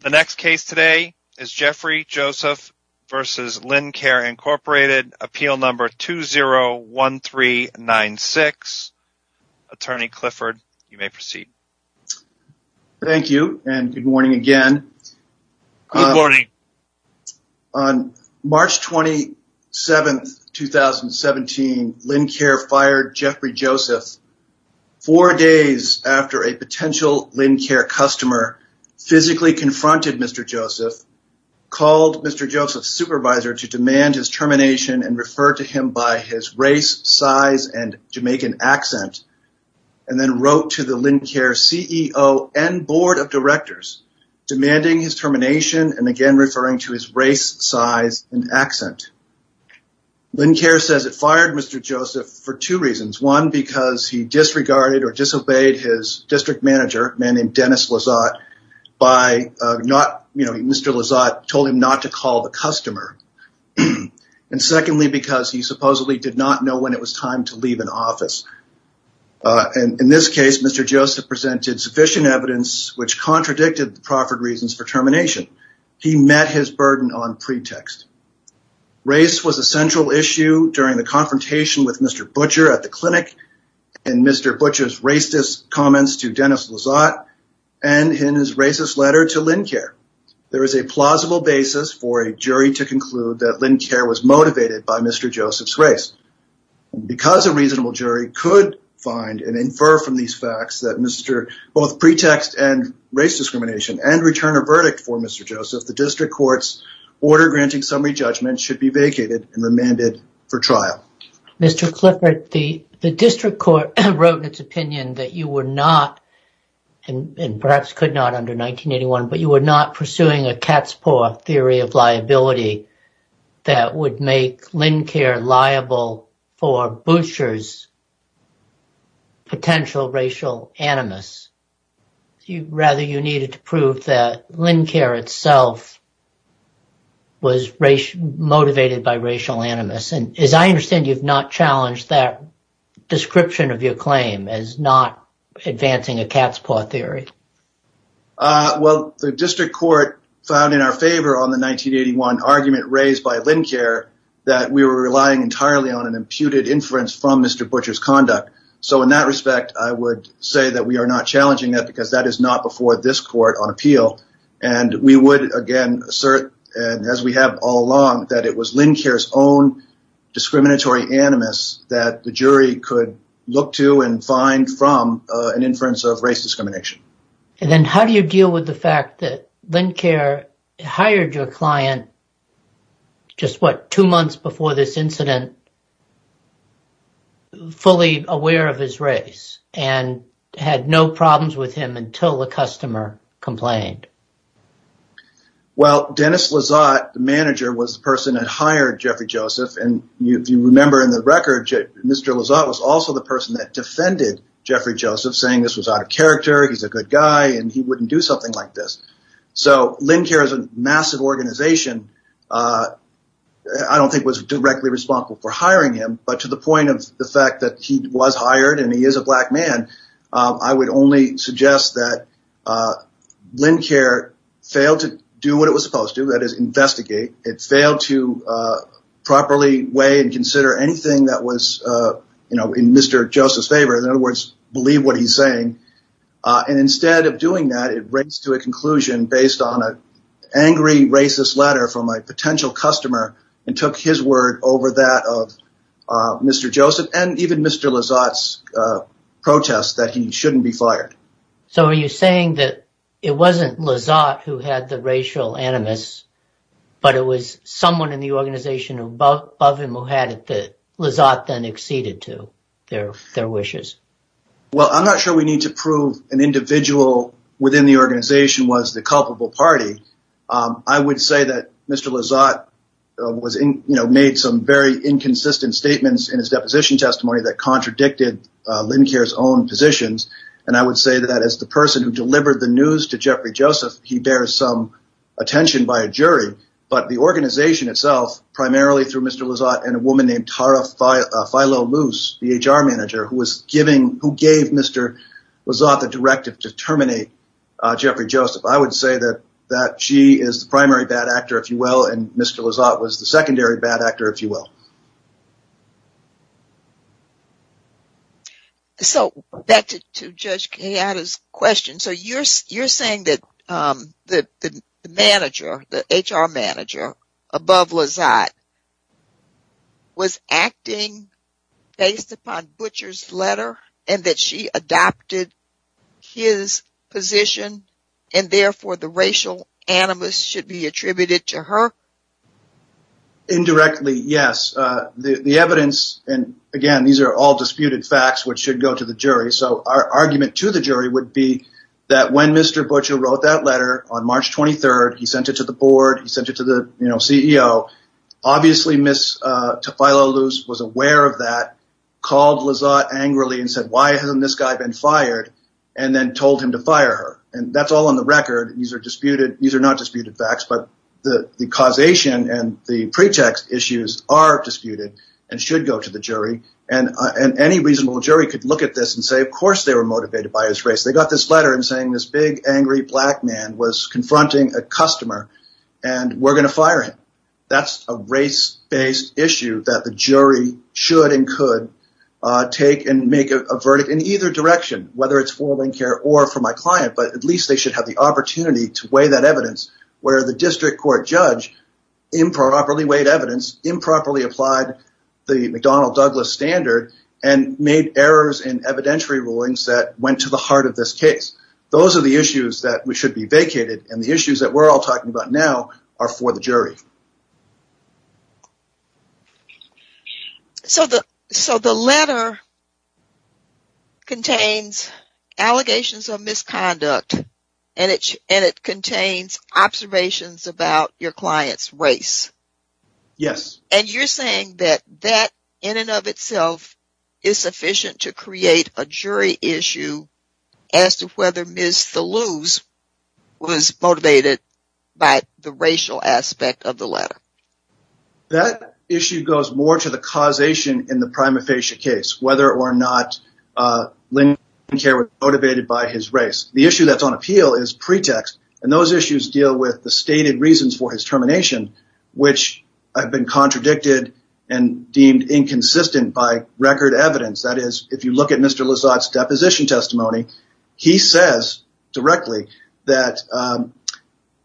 The next case today is Jeffrey Joseph v. Lincare, Inc., Appeal Number 201396. Attorney Clifford, you may proceed. Thank you, and good morning again. Good morning. On March 27, 2017, Lincare fired Jeffrey Joseph four days after a potential Lincare customer physically confronted Mr. Joseph, called Mr. Joseph's supervisor to demand his termination and referred to him by his race, size, and Jamaican accent, and then wrote to the Lincare CEO and board of directors, demanding his termination and again referring to his race, size, and accent. Lincare says it fired Mr. Joseph for two reasons. One, because he disregarded or disobeyed his district manager, a man named Dennis Lizotte. Mr. Lizotte told him not to call the customer. And secondly, because he supposedly did not know when it was time to leave an office. In this case, Mr. Joseph presented sufficient evidence which contradicted the proffered reasons for termination. He met his burden on pretext. Race was a central issue during the confrontation with Mr. Butcher at the clinic and Mr. Butcher's racist comments to Dennis Lizotte and in his racist letter to Lincare. There is a plausible basis for a jury to conclude that Lincare was motivated by Mr. Joseph's race. Because a reasonable jury could find and infer from these facts that both pretext and race discrimination and return a verdict for Mr. Joseph, the district court's order granting summary judgment should be vacated and remanded for trial. Mr. Clifford, the district court wrote in its opinion that you were not, and perhaps could not under 1981, but you were not pursuing a cat's paw theory of liability that would make Lincare liable for Butcher's potential racial animus. Rather, you needed to prove that Lincare itself was motivated by racial animus. And as I understand, you've not challenged that description of your claim as not advancing a cat's paw theory. Well, the district court found in our favor on the 1981 argument raised by Lincare that we were relying entirely on an imputed inference from Mr. Butcher's conduct. So in that respect, I would say that we are not challenging that because that is not before this court on appeal. And we would, again, assert, as we have all along, that it was Lincare's own discriminatory animus that the jury could look to and find from an inference of race discrimination. And then how do you deal with the fact that Lincare hired your client just, what, two months before this incident, fully aware of his race and had no problems with him until the customer complained? Well, Dennis Lizotte, the manager, was the person that hired Jeffrey Joseph. And if you remember in the record, Mr. Lizotte was also the person that defended Jeffrey Joseph, saying this was out of character, he's a good guy, and he wouldn't do something like this. So Lincare is a massive organization. I don't think it was directly responsible for hiring him, but to the point of the fact that he was hired and he is a black man, I would only suggest that Lincare failed to do what it was supposed to, that is, investigate. It failed to properly weigh and consider anything that was in Mr. Joseph's favor, in other words, believe what he's saying. And instead of doing that, it raised to a conclusion based on an angry, racist letter from a potential customer and took his word over that of Mr. Joseph and even Mr. Lizotte's protest that he shouldn't be fired. So are you saying that it wasn't Lizotte who had the racial animus, but it was someone in the organization above him who had it that Lizotte then acceded to their wishes? Well, I'm not sure we need to prove an individual within the organization was the culpable party. I would say that Mr. Lizotte made some very inconsistent statements in his deposition testimony that contradicted Lincare's own positions, and I would say that as the person who delivered the news to Jeffrey Joseph, he bears some attention by a jury. But the organization itself, primarily through Mr. Lizotte and a woman named Tara Filo-Loose, the HR manager, who gave Mr. Lizotte the directive to terminate Jeffrey Joseph, I would say that she is the primary bad actor, if you will, and Mr. Lizotte was the secondary bad actor, if you will. So back to Judge Kayada's question. So you're saying that the manager, the HR manager above Lizotte, was acting based upon Butcher's letter and that she adopted his position and, therefore, the racial animus should be attributed to her? Indirectly, yes. The evidence, and, again, these are all disputed facts, which should go to the jury. So our argument to the jury would be that when Mr. Butcher wrote that letter on March 23rd, he sent it to the board, he sent it to the CEO, obviously Ms. Filo-Loose was aware of that, called Lizotte angrily and said, why hasn't this guy been fired, and then told him to fire her. And that's all on the record. These are not disputed facts, but the causation and the pretext issues are disputed and should go to the jury. And any reasonable jury could look at this and say, of course, they were motivated by his race. They got this letter saying this big, angry black man was confronting a customer and we're going to fire him. That's a race-based issue that the jury should and could take and make a verdict in either direction, whether it's formal in-care or for my client, but at least they should have the opportunity to weigh that evidence where the district court judge improperly weighed evidence, improperly applied the McDonnell-Douglas standard, and made errors in evidentiary rulings that went to the heart of this case. Those are the issues that should be vacated, and the issues that we're all talking about now are for the jury. So the letter contains allegations of misconduct, and it contains observations about your client's race. Yes. And you're saying that that, in and of itself, is sufficient to create a jury issue as to whether Ms. Thaluse was motivated by the racial aspect of the letter. That issue goes more to the causation in the prima facie case, whether or not Lincoln Care was motivated by his race. The issue that's on appeal is pretext, and those issues deal with the stated reasons for his termination, which have been contradicted and deemed inconsistent by record evidence. That is, if you look at Mr. Lizotte's deposition testimony, he says directly that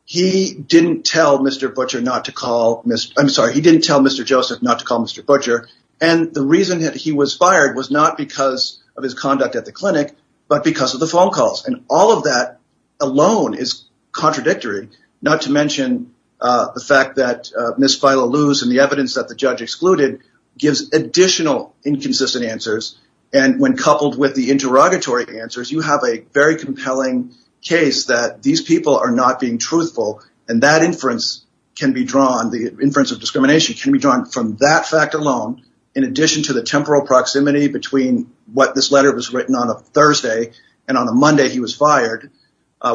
he didn't tell Mr. Butcher not to call Mr. I'm sorry, he didn't tell Mr. Joseph not to call Mr. Butcher, and the reason that he was fired was not because of his conduct at the clinic but because of the phone calls, and all of that alone is contradictory, not to mention the fact that Ms. Thaluse and the evidence that the judge excluded gives additional inconsistent answers, and when coupled with the interrogatory answers, you have a very compelling case that these people are not being truthful, and that inference can be drawn, the inference of discrimination can be drawn from that fact alone in addition to the temporal proximity between what this letter was written on a Thursday and on a Monday he was fired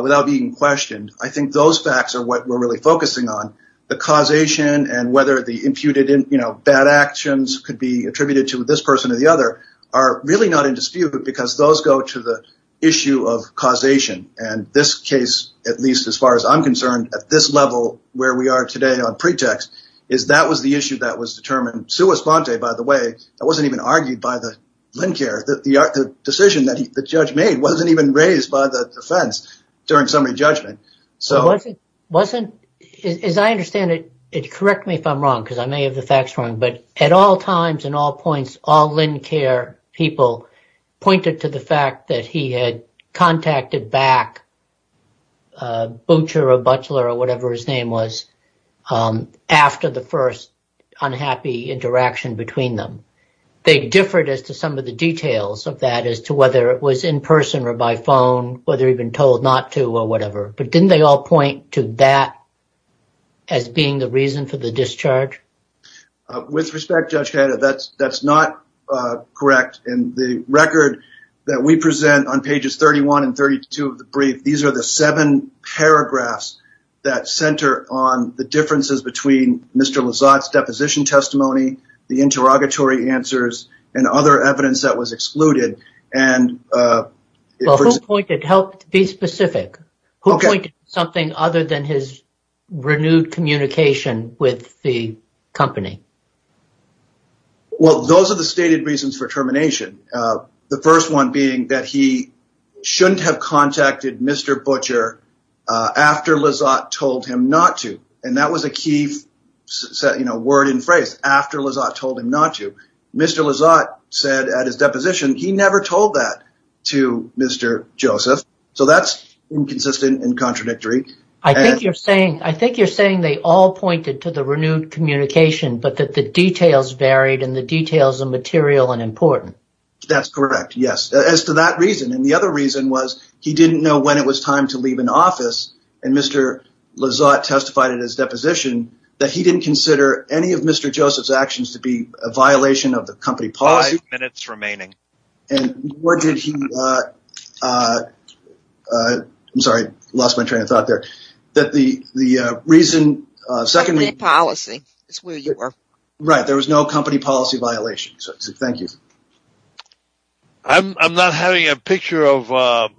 without being questioned. I think those facts are what we're really focusing on. The causation and whether the imputed bad actions could be attributed to this person or the other are really not in dispute because those go to the issue of causation, and this case, at least as far as I'm concerned, at this level where we are today on pretext, is that was the issue that was determined. Sue Esponte, by the way, wasn't even argued by the Lincare. The decision that the judge made wasn't even raised by the defense during the summary judgment. As I understand it, correct me if I'm wrong, because I may have the facts wrong, but at all times and all points, all Lincare people pointed to the fact that he had contacted back Boucher or Butler or whatever his name was after the first unhappy interaction between them. They differed as to some of the details of that as to whether it was in person or by phone, whether he'd been told not to or whatever. But didn't they all point to that as being the reason for the discharge? With respect, Judge Canada, that's not correct. In the record that we present on pages 31 and 32 of the brief, these are the seven paragraphs that center on the differences between Mr. Lizotte's deposition testimony, the interrogatory answers, and other evidence that was excluded. Who pointed, help be specific, who pointed to something other than his renewed communication with the company? Well, those are the stated reasons for termination. The first one being that he shouldn't have contacted Mr. Butcher after Lizotte told him not to. And that was a key word and phrase, after Lizotte told him not to. Mr. Lizotte said at his deposition he never told that to Mr. Joseph. So that's inconsistent and contradictory. I think you're saying they all pointed to the renewed communication, but that the details varied and the details are material and important. That's correct, yes. As to that reason, and the other reason was he didn't know when it was time to leave an office and Mr. Lizotte testified at his deposition that he didn't consider any of Mr. And that was the reason for termination of the company policy. Five minutes remaining. And where did he, I'm sorry, lost my train of thought there, that the reason, secondly, Company policy is where you are. Right. There was no company policy violation. So thank you. I'm not having a picture of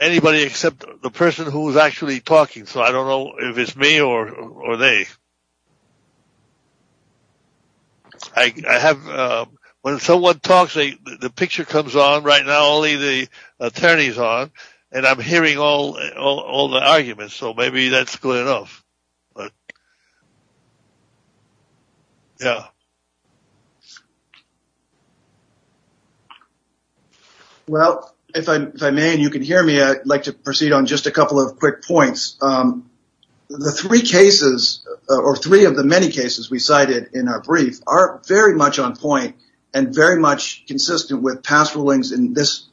anybody except the person who was actually talking. So I don't know if it's me or they. I have, when someone talks, the picture comes on right now, only the attorneys on, and I'm hearing all the arguments. So maybe that's good enough. Yeah. Well, if I may, and you can hear me, I'd like to proceed on just a couple of quick points. The three cases, or three of the many cases we cited in our brief are very much on point and very much consistent with past rulings in this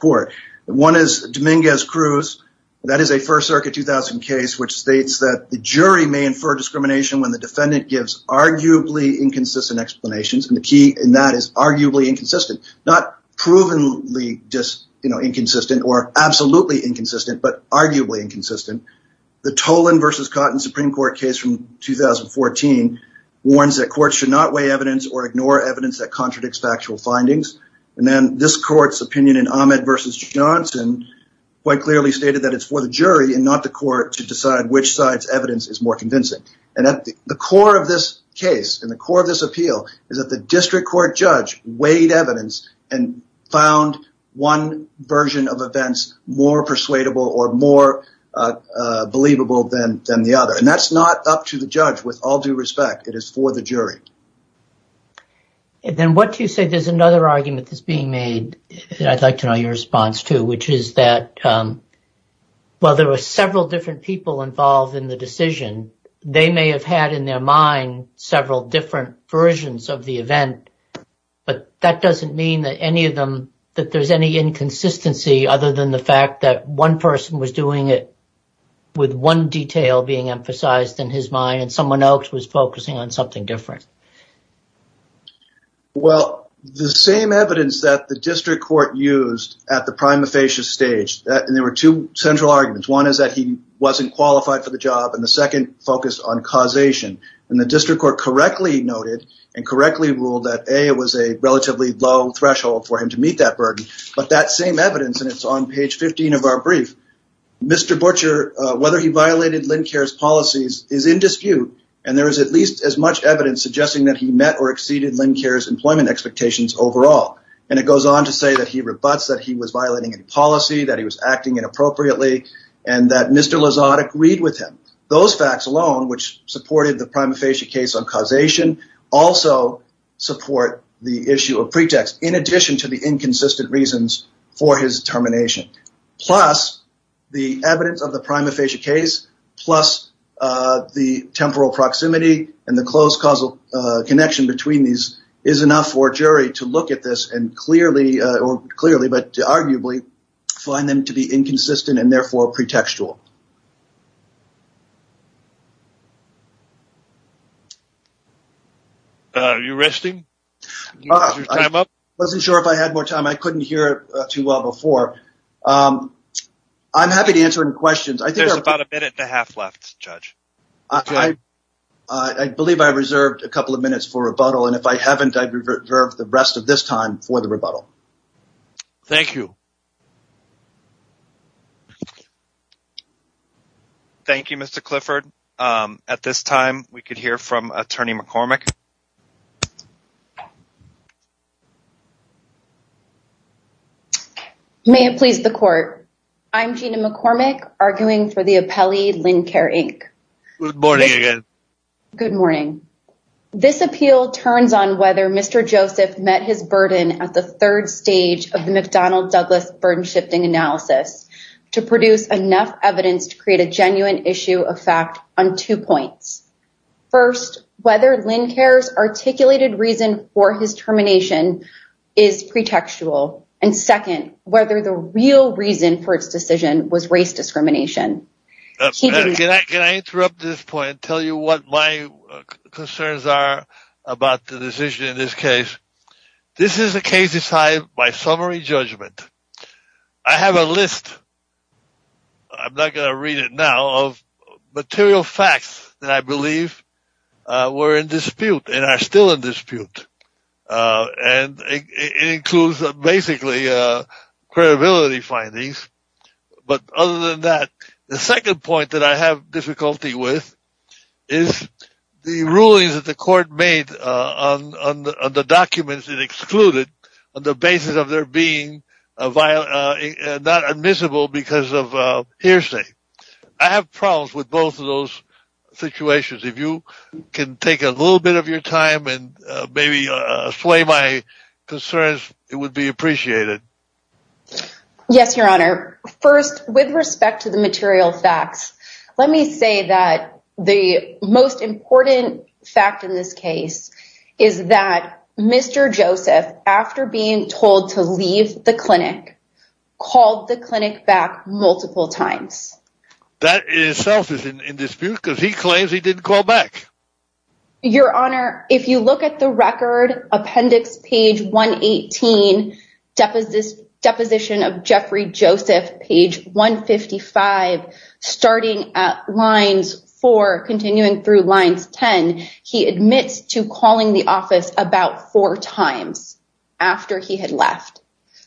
court. One is Dominguez Cruz. That is a first circuit 2000 case, which states that the jury may infer discrimination when the defendant gives arguably inconsistent explanations. And the key in that is arguably inconsistent, not proven. We just, you know, inconsistent or absolutely inconsistent, but arguably inconsistent. The Tolan versus Cotton Supreme court case from 2014 warns that courts should not weigh evidence or ignore evidence that contradicts factual findings. And then this court's opinion in Ahmed versus Johnson quite clearly stated that it's for the jury and not the court to decide which side's evidence is more convincing. And at the core of this case and the core of this appeal is that the district court judge weighed evidence and found one version of events more believable than the other. And that's not up to the judge with all due respect. It is for the jury. And then what do you say? There's another argument that's being made that I'd like to know your response to, which is that, well, there were several different people involved in the decision. They may have had in their mind several different versions of the event, but that doesn't mean that any of them, that there's any inconsistency other than the fact that one person was doing it with one detail being emphasized in his mind and someone else was focusing on something different. Well, the same evidence that the district court used at the prima facie stage, and there were two central arguments. One is that he wasn't qualified for the job and the second focus on causation and the district court correctly noted and correctly ruled that a, it was a relatively low threshold for him to meet that burden. But that same evidence, and it's on page 15 of our brief, Mr. Butcher, whether he violated Lynn cares policies is in dispute. And there is at least as much evidence suggesting that he met or exceeded Lynn cares employment expectations overall. And it goes on to say that he rebuts that he was violating a policy that he was acting inappropriately and that Mr. Lazada agreed with him. Those facts alone, which supported the prima facie case on causation also support the issue of pretext. In addition to the inconsistent reasons for his termination. Plus the evidence of the prima facie case, plus the temporal proximity and the close causal connection between these is enough for Jerry to look at this and clearly or clearly, but arguably find them to be inconsistent and therefore pretextual. Are you resting? Wasn't sure if I had more time. I couldn't hear too well before. I'm happy to answer any questions. I think there's about a minute and a half left judge. I believe I reserved a couple of minutes for rebuttal. And if I haven't, I'd revert the rest of this time for the rebuttal. Thank you. Thank you, Mr. Clifford. At this time we could hear from attorney McCormick. Okay. May it please the court. I'm Gina McCormick arguing for the appellee Lincare Inc. Good morning. Good morning. This appeal turns on whether Mr. Joseph met his burden at the third stage of the McDonald Douglas burden shifting analysis to produce enough evidence to create a genuine issue of fact on two points. First, whether Lincare's articulated reason for his termination is pretextual. And second, whether the real reason for its decision was race discrimination. Can I interrupt this point and tell you what my concerns are about the decision in this case? This is a case decided by summary judgment. I have a list. I'm not going to read it now of material facts that I believe were in dispute and are still in dispute. And it includes basically a credibility findings. But other than that, the second point that I have difficulty with is the rulings that the court made on, on the documents that excluded on the basis of there being a violent, uh, not admissible because of a hearsay. I have problems with both of those situations. If you can take a little bit of your time and maybe, uh, sway my concerns, it would be appreciated. Yes, Your Honor. First with respect to the material facts, let me say that the most important fact in this case is that Mr. Joseph, after being told to leave the clinic, called the clinic back multiple times. That itself is in dispute because he claims he didn't call back. Your Honor. If you look at the record appendix page one 18 deposition, deposition of Jeffrey Joseph, page one 55 starting at lines for continuing through lines 10. He admits to calling the office about four times after he had left.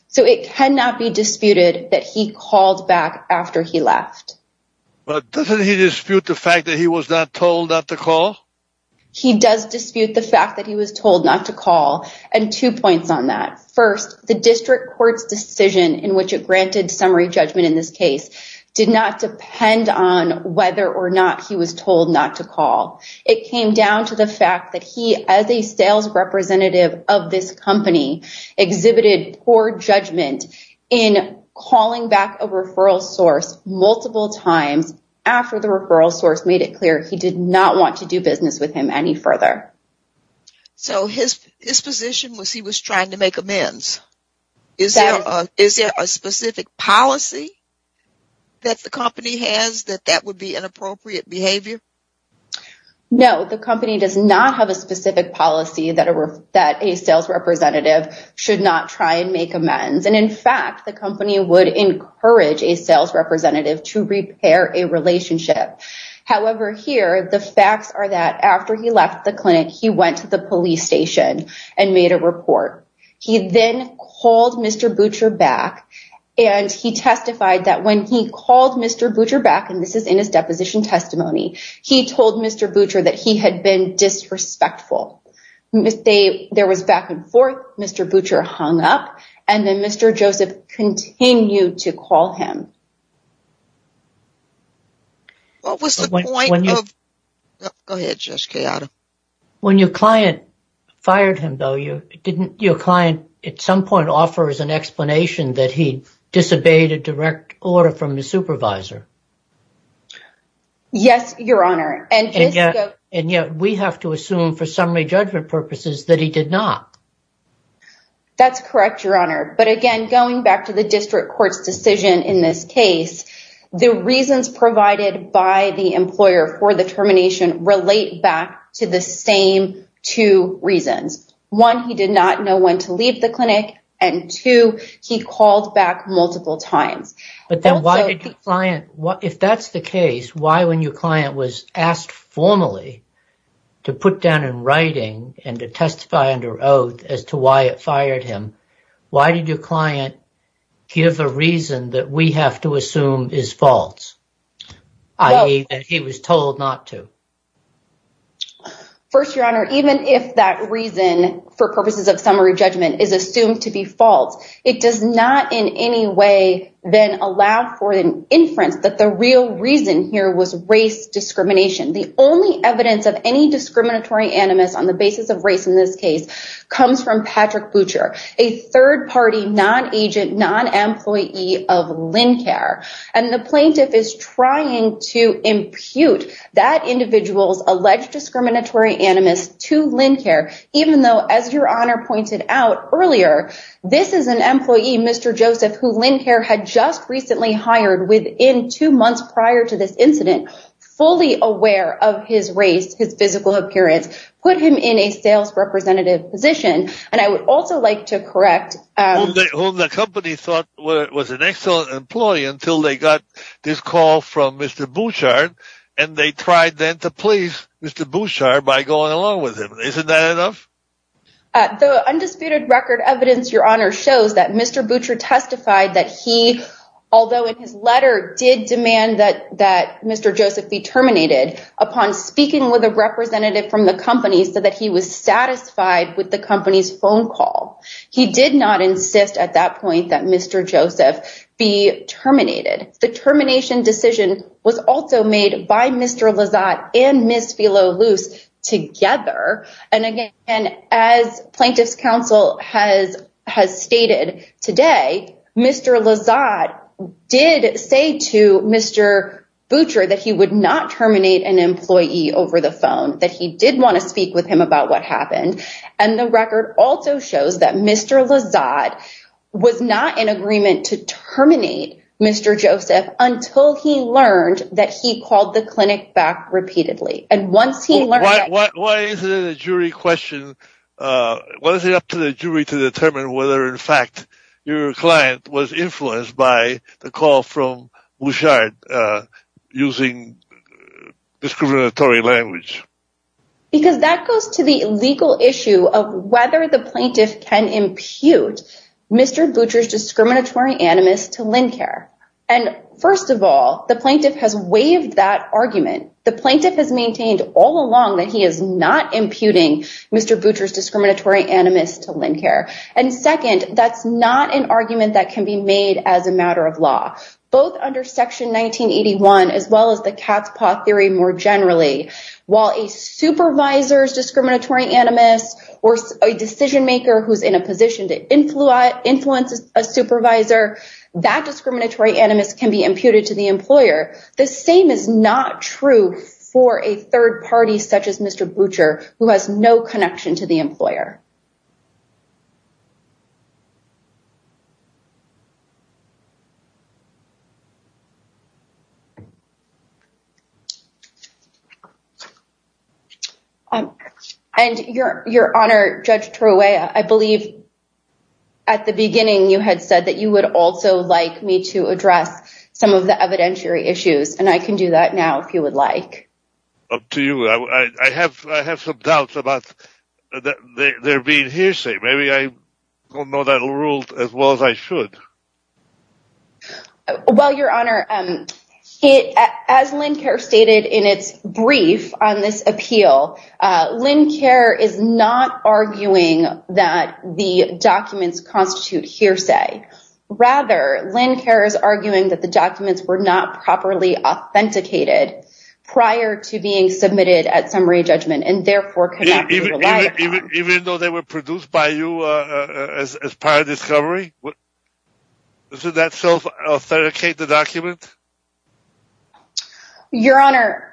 So it cannot be disputed that he called back after he left. But doesn't he dispute the fact that he was not told not to call? He does dispute the fact that he was told not to call. And two points on that first, the district court's decision in which it granted summary judgment in this case did not depend on whether or not he was told not to call. It came down to the fact that he, as a sales representative of this company exhibited poor judgment in calling back a referral source multiple times after the referral source made it clear he did not want to do business with him any further. So his, his position was he was trying to make amends. Is there a specific policy that the company has that that would be inappropriate behavior? No, the company does not have a specific policy that are, that a sales representative should not try and make amends. And in fact, the company would encourage a sales representative to repair a relationship. However, here, the facts are that after he left the clinic, he went to the police station and made a report. He then called Mr. Butcher back and he testified that when he called Mr. Butcher back, and this is in his deposition testimony, he told Mr. Butcher that he had been disrespectful. They, there was back and forth. Mr. Butcher hung up and then Mr. Joseph continued to call him. What was the point? Go ahead, Jessica. When your client fired him though, you didn't your client at some point offers an explanation that he disobeyed a direct order from the supervisor. Yes, your Honor. And yet, and yet we have to assume for summary judgment purposes that he did not. That's correct, your Honor. But again, going back to the district court's decision in this case, the reasons provided by the employer for the termination relate back to the same two reasons. One, he did not know when to leave the clinic and two, he called back multiple times. If that's the case, why, when your client was asked formally to put down in writing and to testify under oath as to why it fired him, why did your client give a reason that we have to assume is false? He was told not to. First, your Honor, even if that reason for purposes of summary judgment is assumed to be false, it does not in any way then allow for an inference that the real reason here was race discrimination. The only evidence of any discriminatory animus on the basis of race in this case comes from Patrick Butcher, a third party, non-agent, non-employee of Lincare. And the plaintiff is trying to impute that individual's alleged discriminatory animus to Lincare, even though, as your Honor pointed out earlier, this is an employee, Mr. Joseph, who Lincare had just recently hired within two months prior to this incident, fully aware of his race, his physical appearance, put him in a sales representative position. And I would also like to correct, well, the company thought was an excellent employee until they got this call from Mr. Bouchard. And they tried then to please Mr. Bouchard by going along with him. Isn't that enough? The undisputed record evidence, your Honor shows that Mr. Bouchard testified that he, although in his letter did demand that, that Mr. Joseph be terminated upon speaking with a representative from the company so that he was satisfied with the company's phone call. He did not insist at that point that Mr. Joseph be terminated. The termination decision was also made by Mr. Lizotte and Ms. Together. And again, as plaintiff's counsel has, has stated today, Mr. Lizotte did say to Mr. Bouchard that he would not terminate an employee over the phone, that he did want to speak with him about what happened. And the record also shows that Mr. Lizotte was not in agreement to terminate Mr. Joseph until he learned that he called the clinic back repeatedly. And once he learned. Why is it a jury question? Was it up to the jury to determine whether in fact your client was influenced by the call from Bouchard using discriminatory language? Because that goes to the legal issue of whether the plaintiff can impute Mr. Butcher's discriminatory animus to Lynn care. And first of all, the plaintiff has waived that argument. The plaintiff has maintained all along that he is not imputing Mr. Butcher's discriminatory animus to Lynn care. And second, that's not an argument that can be made as a matter of law, both under section 1981, as well as the cat's paw theory. More generally, while a supervisor's discriminatory animus or a decision maker, who's in a position to influence influences a supervisor, that discriminatory animus can be imputed to the employer. The same is not true for a third party, such as Mr. Butcher, who has no connection to the employer. And your your honor, Judge Troy, I believe. At the beginning, you had said that you would also like me to address some of the evidentiary issues. And I can do that now, if you would like. Up to you. I have, I have some doubts about that. They're being hearsay. Maybe I don't know. That'll rule as well as I should. Well, your honor, as Lynn care stated in its brief on this appeal, Lynn care is not arguing that the documents constitute hearsay. Rather, Lynn cares, arguing that the documents were not properly authenticated prior to being submitted at summary judgment. And therefore, even though they were produced by you as part of discovery, that self authenticate the document. Your honor,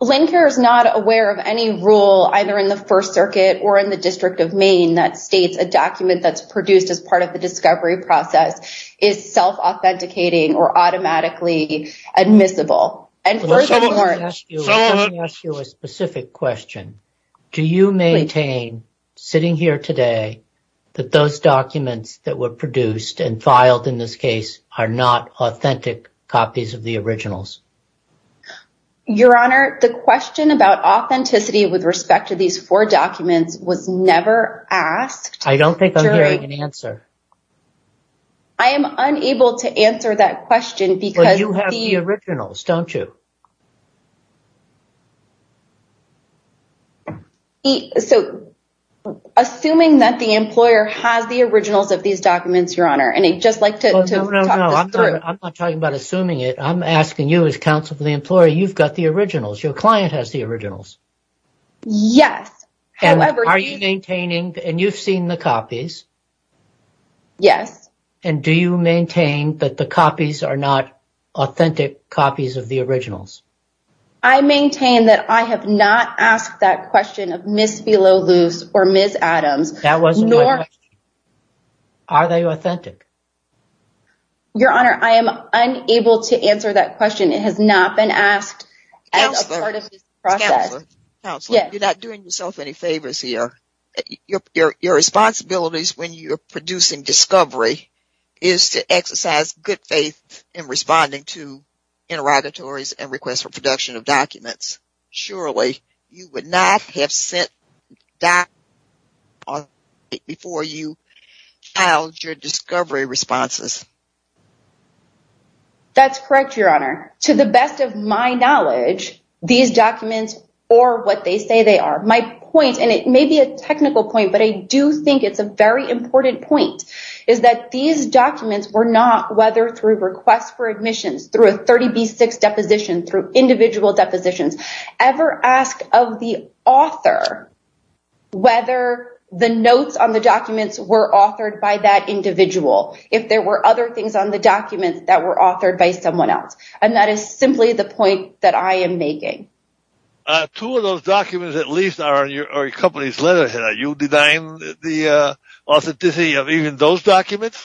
Lynn care is not aware of any rule, either in the first circuit or in the district of Maine, that states a document that's produced as part of the discovery process is self authenticating or automatically admissible. And first of all, let me ask you a specific question. Do you maintain sitting here today that those documents that were produced and filed in this case are not authentic copies of the originals? Your honor, the question about authenticity with respect to these four documents was never asked. I don't think I'm hearing an answer. I am unable to answer that question because you have the originals, don't you? So assuming that the employer has the originals of these documents, your honor, and I'd just like to, I'm not talking about assuming it. I'm asking you as counsel for the employer, you've got the originals, your client has the originals. Yes. However, are you maintaining and you've seen the copies? Yes. And do you maintain that the copies are not authentic copies of the originals? I maintain that I have not asked that question of Miss below loose or Miss Adams. That wasn't. Are they authentic? Your honor. I am unable to answer that question. It has not been asked. You're not doing yourself any favors here. Your, your, your responsibilities when you're producing discovery is to exercise good faith in responding to interrogatories and requests for production of documents. Surely you would not have sent that before you how your discovery responses. That's correct. Your honor to the best of my knowledge, these documents or what they say they are. My point, and it may be a technical point, but I do think it's a very important point is that these documents were not whether through requests for admissions through a 30 B six deposition through individual depositions ever asked of the author, whether the notes on the documents were authored by that individual. If there were other things on the documents that were authored by someone else. And that is simply the point that I am making. Two of those documents, at least are in your company's letterhead. Are you denying the authenticity of even those documents?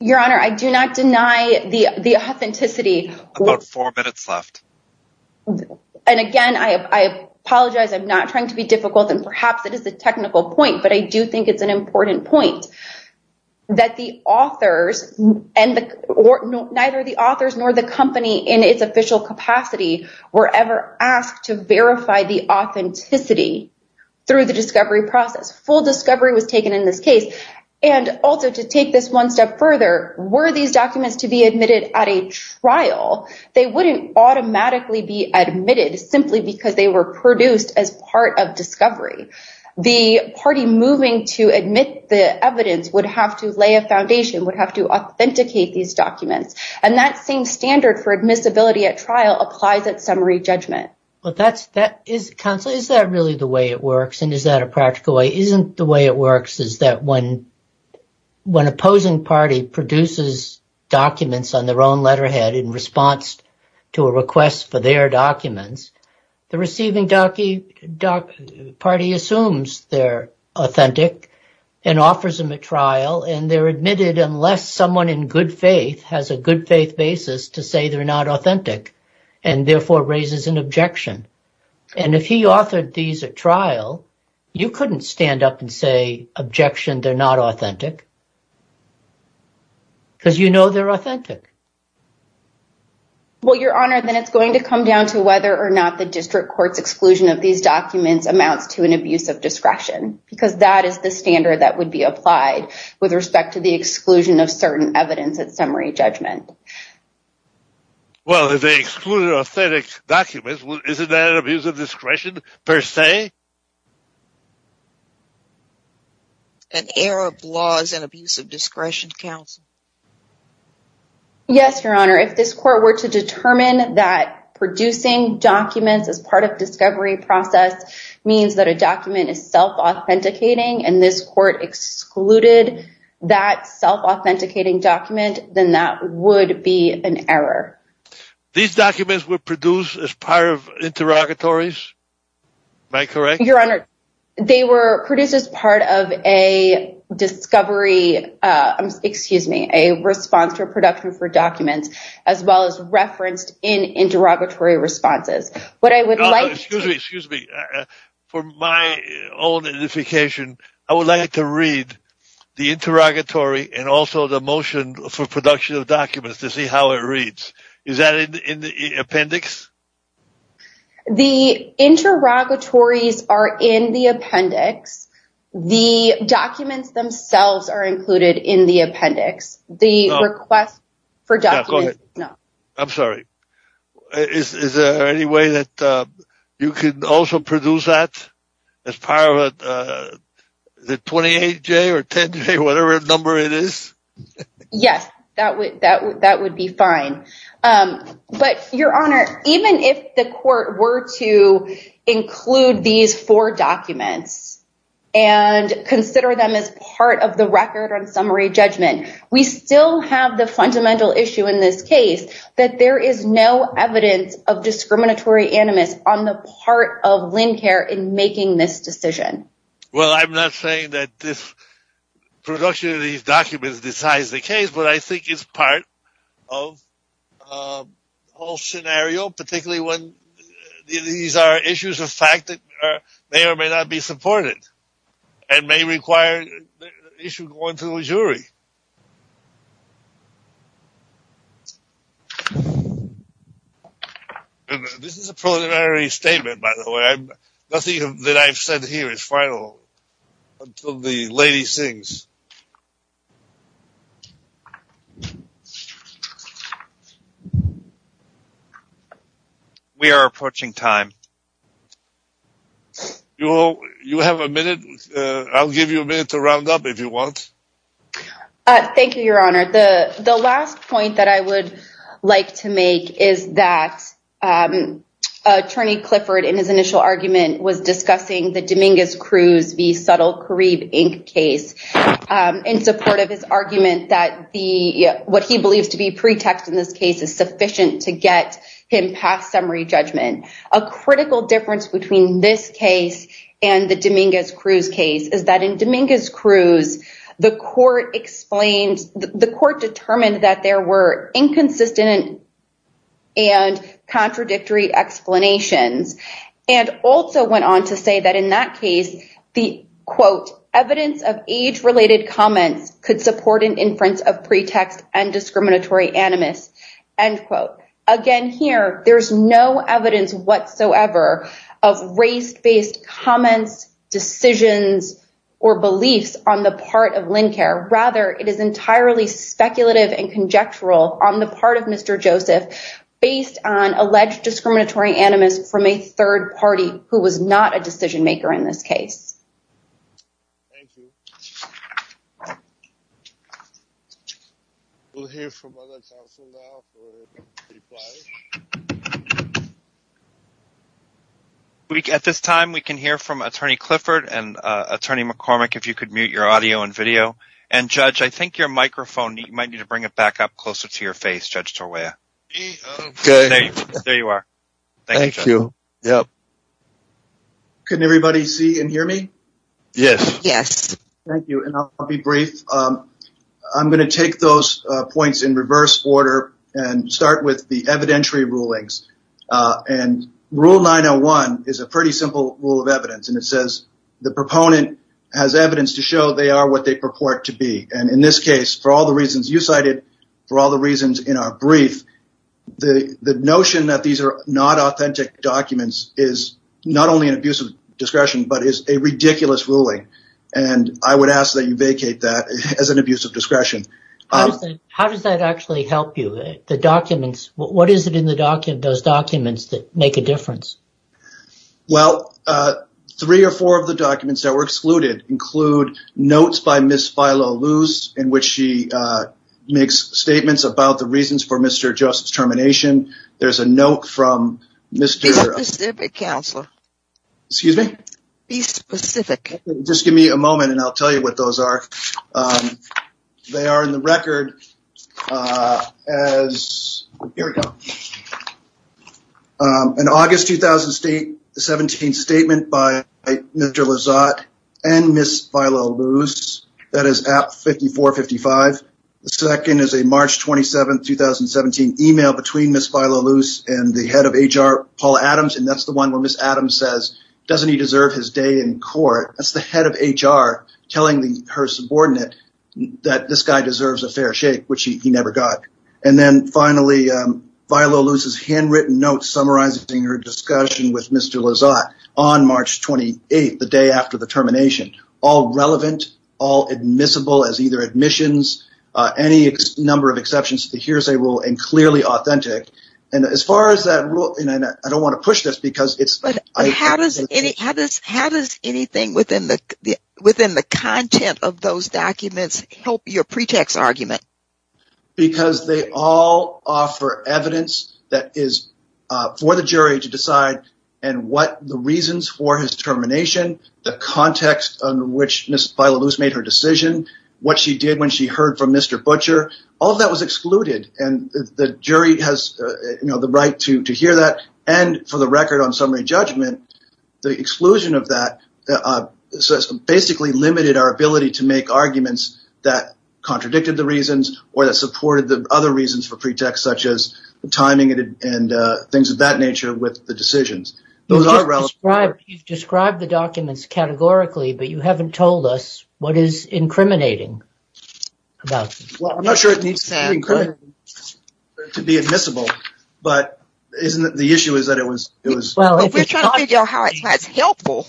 Your honor, I do not deny the, the authenticity about four minutes left. And again, I apologize. I'm not trying to be difficult and perhaps it is a technical point, but I do think it's an important point. That the authors and the, or neither the authors nor the company in its official capacity were ever asked to verify the authenticity through the discovery process. Full discovery was taken in this case. And also to take this one step further, were these documents to be admitted at a trial, they wouldn't automatically be admitted simply because they were produced as part of discovery. The party moving to admit the evidence would have to lay a foundation, would have to authenticate these documents. And that same standard for admissibility at trial applies at summary judgment. Well, that's that is counsel. Is that really the way it works? And is that a practical way? Isn't the way it works is that when, when opposing party produces documents on their own letterhead in response to a request for their documents, the receiving docky doc party assumes they're authentic and offers them a trial and they're admitted unless someone in good faith has a good faith basis to say they're not authentic and therefore raises an objection. And if he authored these at trial, you couldn't stand up and say objection, they're not authentic because you know, they're authentic. Your Honor, then it's going to come down to whether or not the district court's exclusion of these documents amounts to an abuse of discretion because that is the standard that would be applied with respect to the exclusion of certain evidence at summary judgment. Well, if they excluded authentic documents, isn't that an abuse of discretion per se? An Arab laws and abuse of discretion counsel. Your Honor. If this court were to determine that producing documents as part of discovery process means that a document is self-authenticating and this court excluded that self-authenticating document, then that would be an error. These documents were produced as part of interrogatories. Am I correct? Your Honor, they were produced as part of a discovery. Uh, excuse me, a response to a production for documents as well as referenced in interrogatory responses. What I would like, excuse me, for my own edification, I would like to read the interrogatory and also the motion for production of documents to see how it reads. Is that in the appendix? The interrogatories are in the appendix. The documents themselves are included in the appendix. The request for documents. No, I'm sorry. Is there any way that, um, you could also produce that as part of, uh, the 28 J or 10 J, whatever number it is. Yes, that would, that would, that would be fine. Um, but Your Honor, even if the court were to include these four documents, and consider them as part of the record on summary judgment, we still have the fundamental issue in this case, that there is no evidence of discriminatory animus on the part of Lynn Kerr in making this decision. Well, I'm not saying that this production of these documents decides the case, but I think it's part of, um, all scenario, particularly when these are issues of fact that are, may or may not be supported and may require the issue going to a jury. This is a preliminary statement, by the way, nothing that I've said here is final until the lady sings. We are approaching time. You will, you have a minute. Uh, I'll give you a minute to round up if you want. Uh, thank you, Your Honor. The last point that I would like to make is that, um, attorney Clifford in his initial argument was discussing the Dominguez Cruz v. Subtle Kareem Inc. case, um, in support of his argument that the, what he believes to be pretext in this case is sufficient to get him past summary judgment. A critical difference between this case and the Dominguez Cruz case is that in Dominguez Cruz, the court explained the court determined that there were inconsistent and contradictory explanations. And also went on to say that in that case, the quote evidence of age related comments could support an inference of pretext and discriminatory animus end quote. Again, here there's no evidence whatsoever of race based comments, decisions, or beliefs on the part of Lincare. Rather, it is entirely speculative and conjectural on the part of Mr. Joseph based on alleged discriminatory animus from a third party who was not a decision maker in this case. Thank you. We'll hear from other counsel now. At this time, we can hear from attorney Clifford and attorney McCormick. If you could mute your audio and video and judge, I think your microphone, you might need to bring it back up closer to your face. Judge Torway. Okay. There you are. Thank you. Yep. Can everybody see and hear me? Yes. Thank you. And I'll be brief. I'm going to take those points in reverse order and start with the evidentiary rulings. And rule 901 is a pretty simple rule of evidence. And it says the proponent has evidence to show they are what they purport to be. And in this case, for all the reasons you cited for all the reasons in our brief, the notion that these are not authentic documents is not only an abusive discretion, but is a ridiculous ruling. And I would ask that you vacate that as an abusive discretion. How does that actually help you? The documents, what is it in the document, those documents that make a difference? Well, three or four of the documents that were excluded include notes by Miss Philo Luce, in which she makes statements about the reasons for Mr. Joseph's termination. There's a note from Mr. Be specific, counselor. Excuse me? Be specific. Just give me a moment. And I'll tell you what those are. They are in the record. As here we go. An August, 2000 state the 17th statement by Mr. Lizotte and Miss Philo Luce. That is at 54, 55. The second is a March 27th, 2017 email between Miss Philo Luce and the head of HR, Paul Adams. And that's the one where Miss Adams says, doesn't he deserve his day in court? That's the head of HR telling the, her subordinate that this guy deserves a fair shake, which he never got. And then finally, Philo Luce's handwritten notes, summarizing her discussion with Mr. Lizotte on March 28th, the day after the termination, all relevant, all admissible as either admissions, any number of exceptions to the hearsay rule and clearly authentic. And as far as that rule, I don't want to push this because it's how does any, how does, how does anything within the, within the content of those documents help your pretext argument? Because they all offer evidence that is for the jury to decide. And what the reasons for his termination, the context on which Miss Philo Luce made her decision, what she did when she heard from Mr. Butcher, all of that was excluded. And the jury has the right to, to hear that. And for the record on summary judgment, the exclusion of that, so it's basically limited our ability to make arguments that contradicted the reasons or that supported the other reasons for pretext, such as the timing and things of that nature with the decisions. Those are relevant. Describe the documents categorically, but you haven't told us what is incriminating about. Well, isn't the issue is that it was, it was helpful.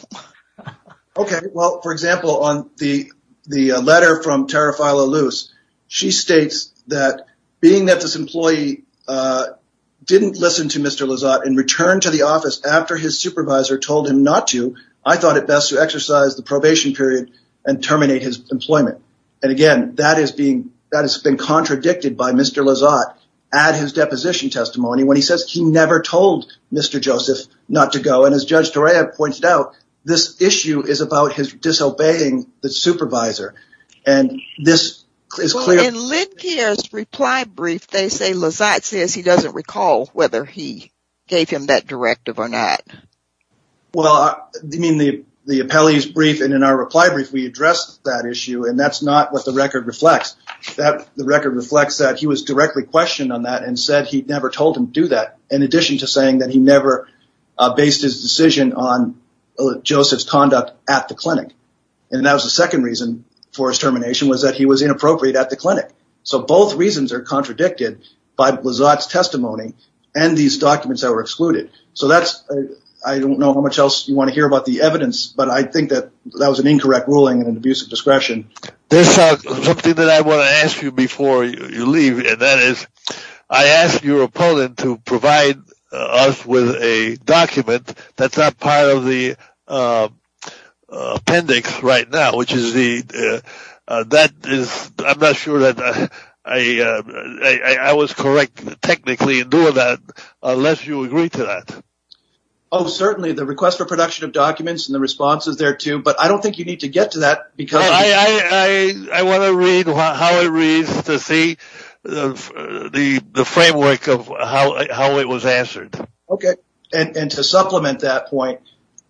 Okay. Well, for example, on the, the letter from Tara file a loose, she states that being that this employee didn't listen to Mr. Lizotte and returned to the office after his supervisor told him not to, I thought it best to exercise the probation period and terminate his employment. And again, that is being, that has been contradicted by Mr. Lizotte at his deposition testimony. When he says he never told Mr. Joseph not to go. And as judge Toria pointed out, this issue is about his disobeying the supervisor. And this is clear. Reply brief. They say Liz, that says he doesn't recall whether he gave him that directive or not. Well, I mean, the, the appellee's brief. And in our reply brief, we addressed that issue and that's not what the record reflects that the supervisor was directly questioned on that and said he'd never told him to do that. In addition to saying that he never based his decision on Joseph's conduct at the clinic. And that was the second reason for his termination was that he was inappropriate at the clinic. So both reasons are contradicted by Lizotte's testimony and these documents that were excluded. So that's, I don't know how much else you want to hear about the evidence, but I think that that was an incorrect ruling and an abusive discretion. There's something that I want to ask you before you leave. And that is, I asked your opponent to provide us with a document. That's not part of the appendix right now, which is the, that is, I'm not sure that I, I was correct technically doing that unless you agree to that. Oh, certainly the request for production of documents and the responses there too. But I don't think you need to get to that. I want to read how it reads to see the framework of how it was answered. Okay. And to supplement that point,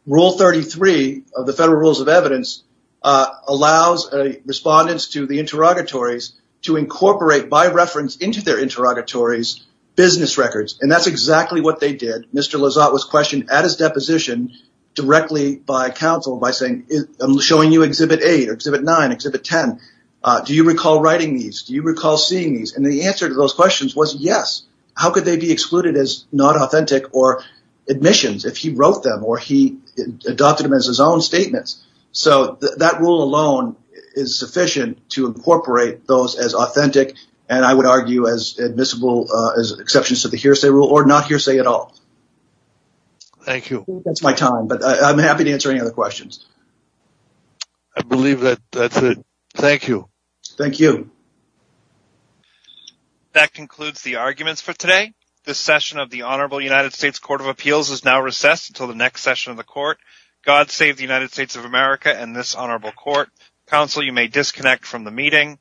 rule 33 of the federal rules of evidence allows respondents to the interrogatories to incorporate by reference into their interrogatories, business records. And that's exactly what they did. Mr. Lizotte was questioned at his deposition directly by counsel by saying, I'm showing you exhibit eight or exhibit nine exhibit 10. Do you recall writing these? Do you recall seeing these? And the answer to those questions was yes. How could they be excluded as not authentic or admissions if he wrote them or he adopted them as his own statements? So that rule alone is sufficient to incorporate those as authentic. And I would argue as admissible as exceptions to the hearsay rule or not hearsay at all. Thank you. That's my time, but I'm happy to answer any other questions. I believe that that's it. Thank you. Thank you. That concludes the arguments for today. The session of the honorable United States court of appeals is now recessed until the next session of the court. God save the United States of America. And this honorable court council, you may disconnect from the meeting.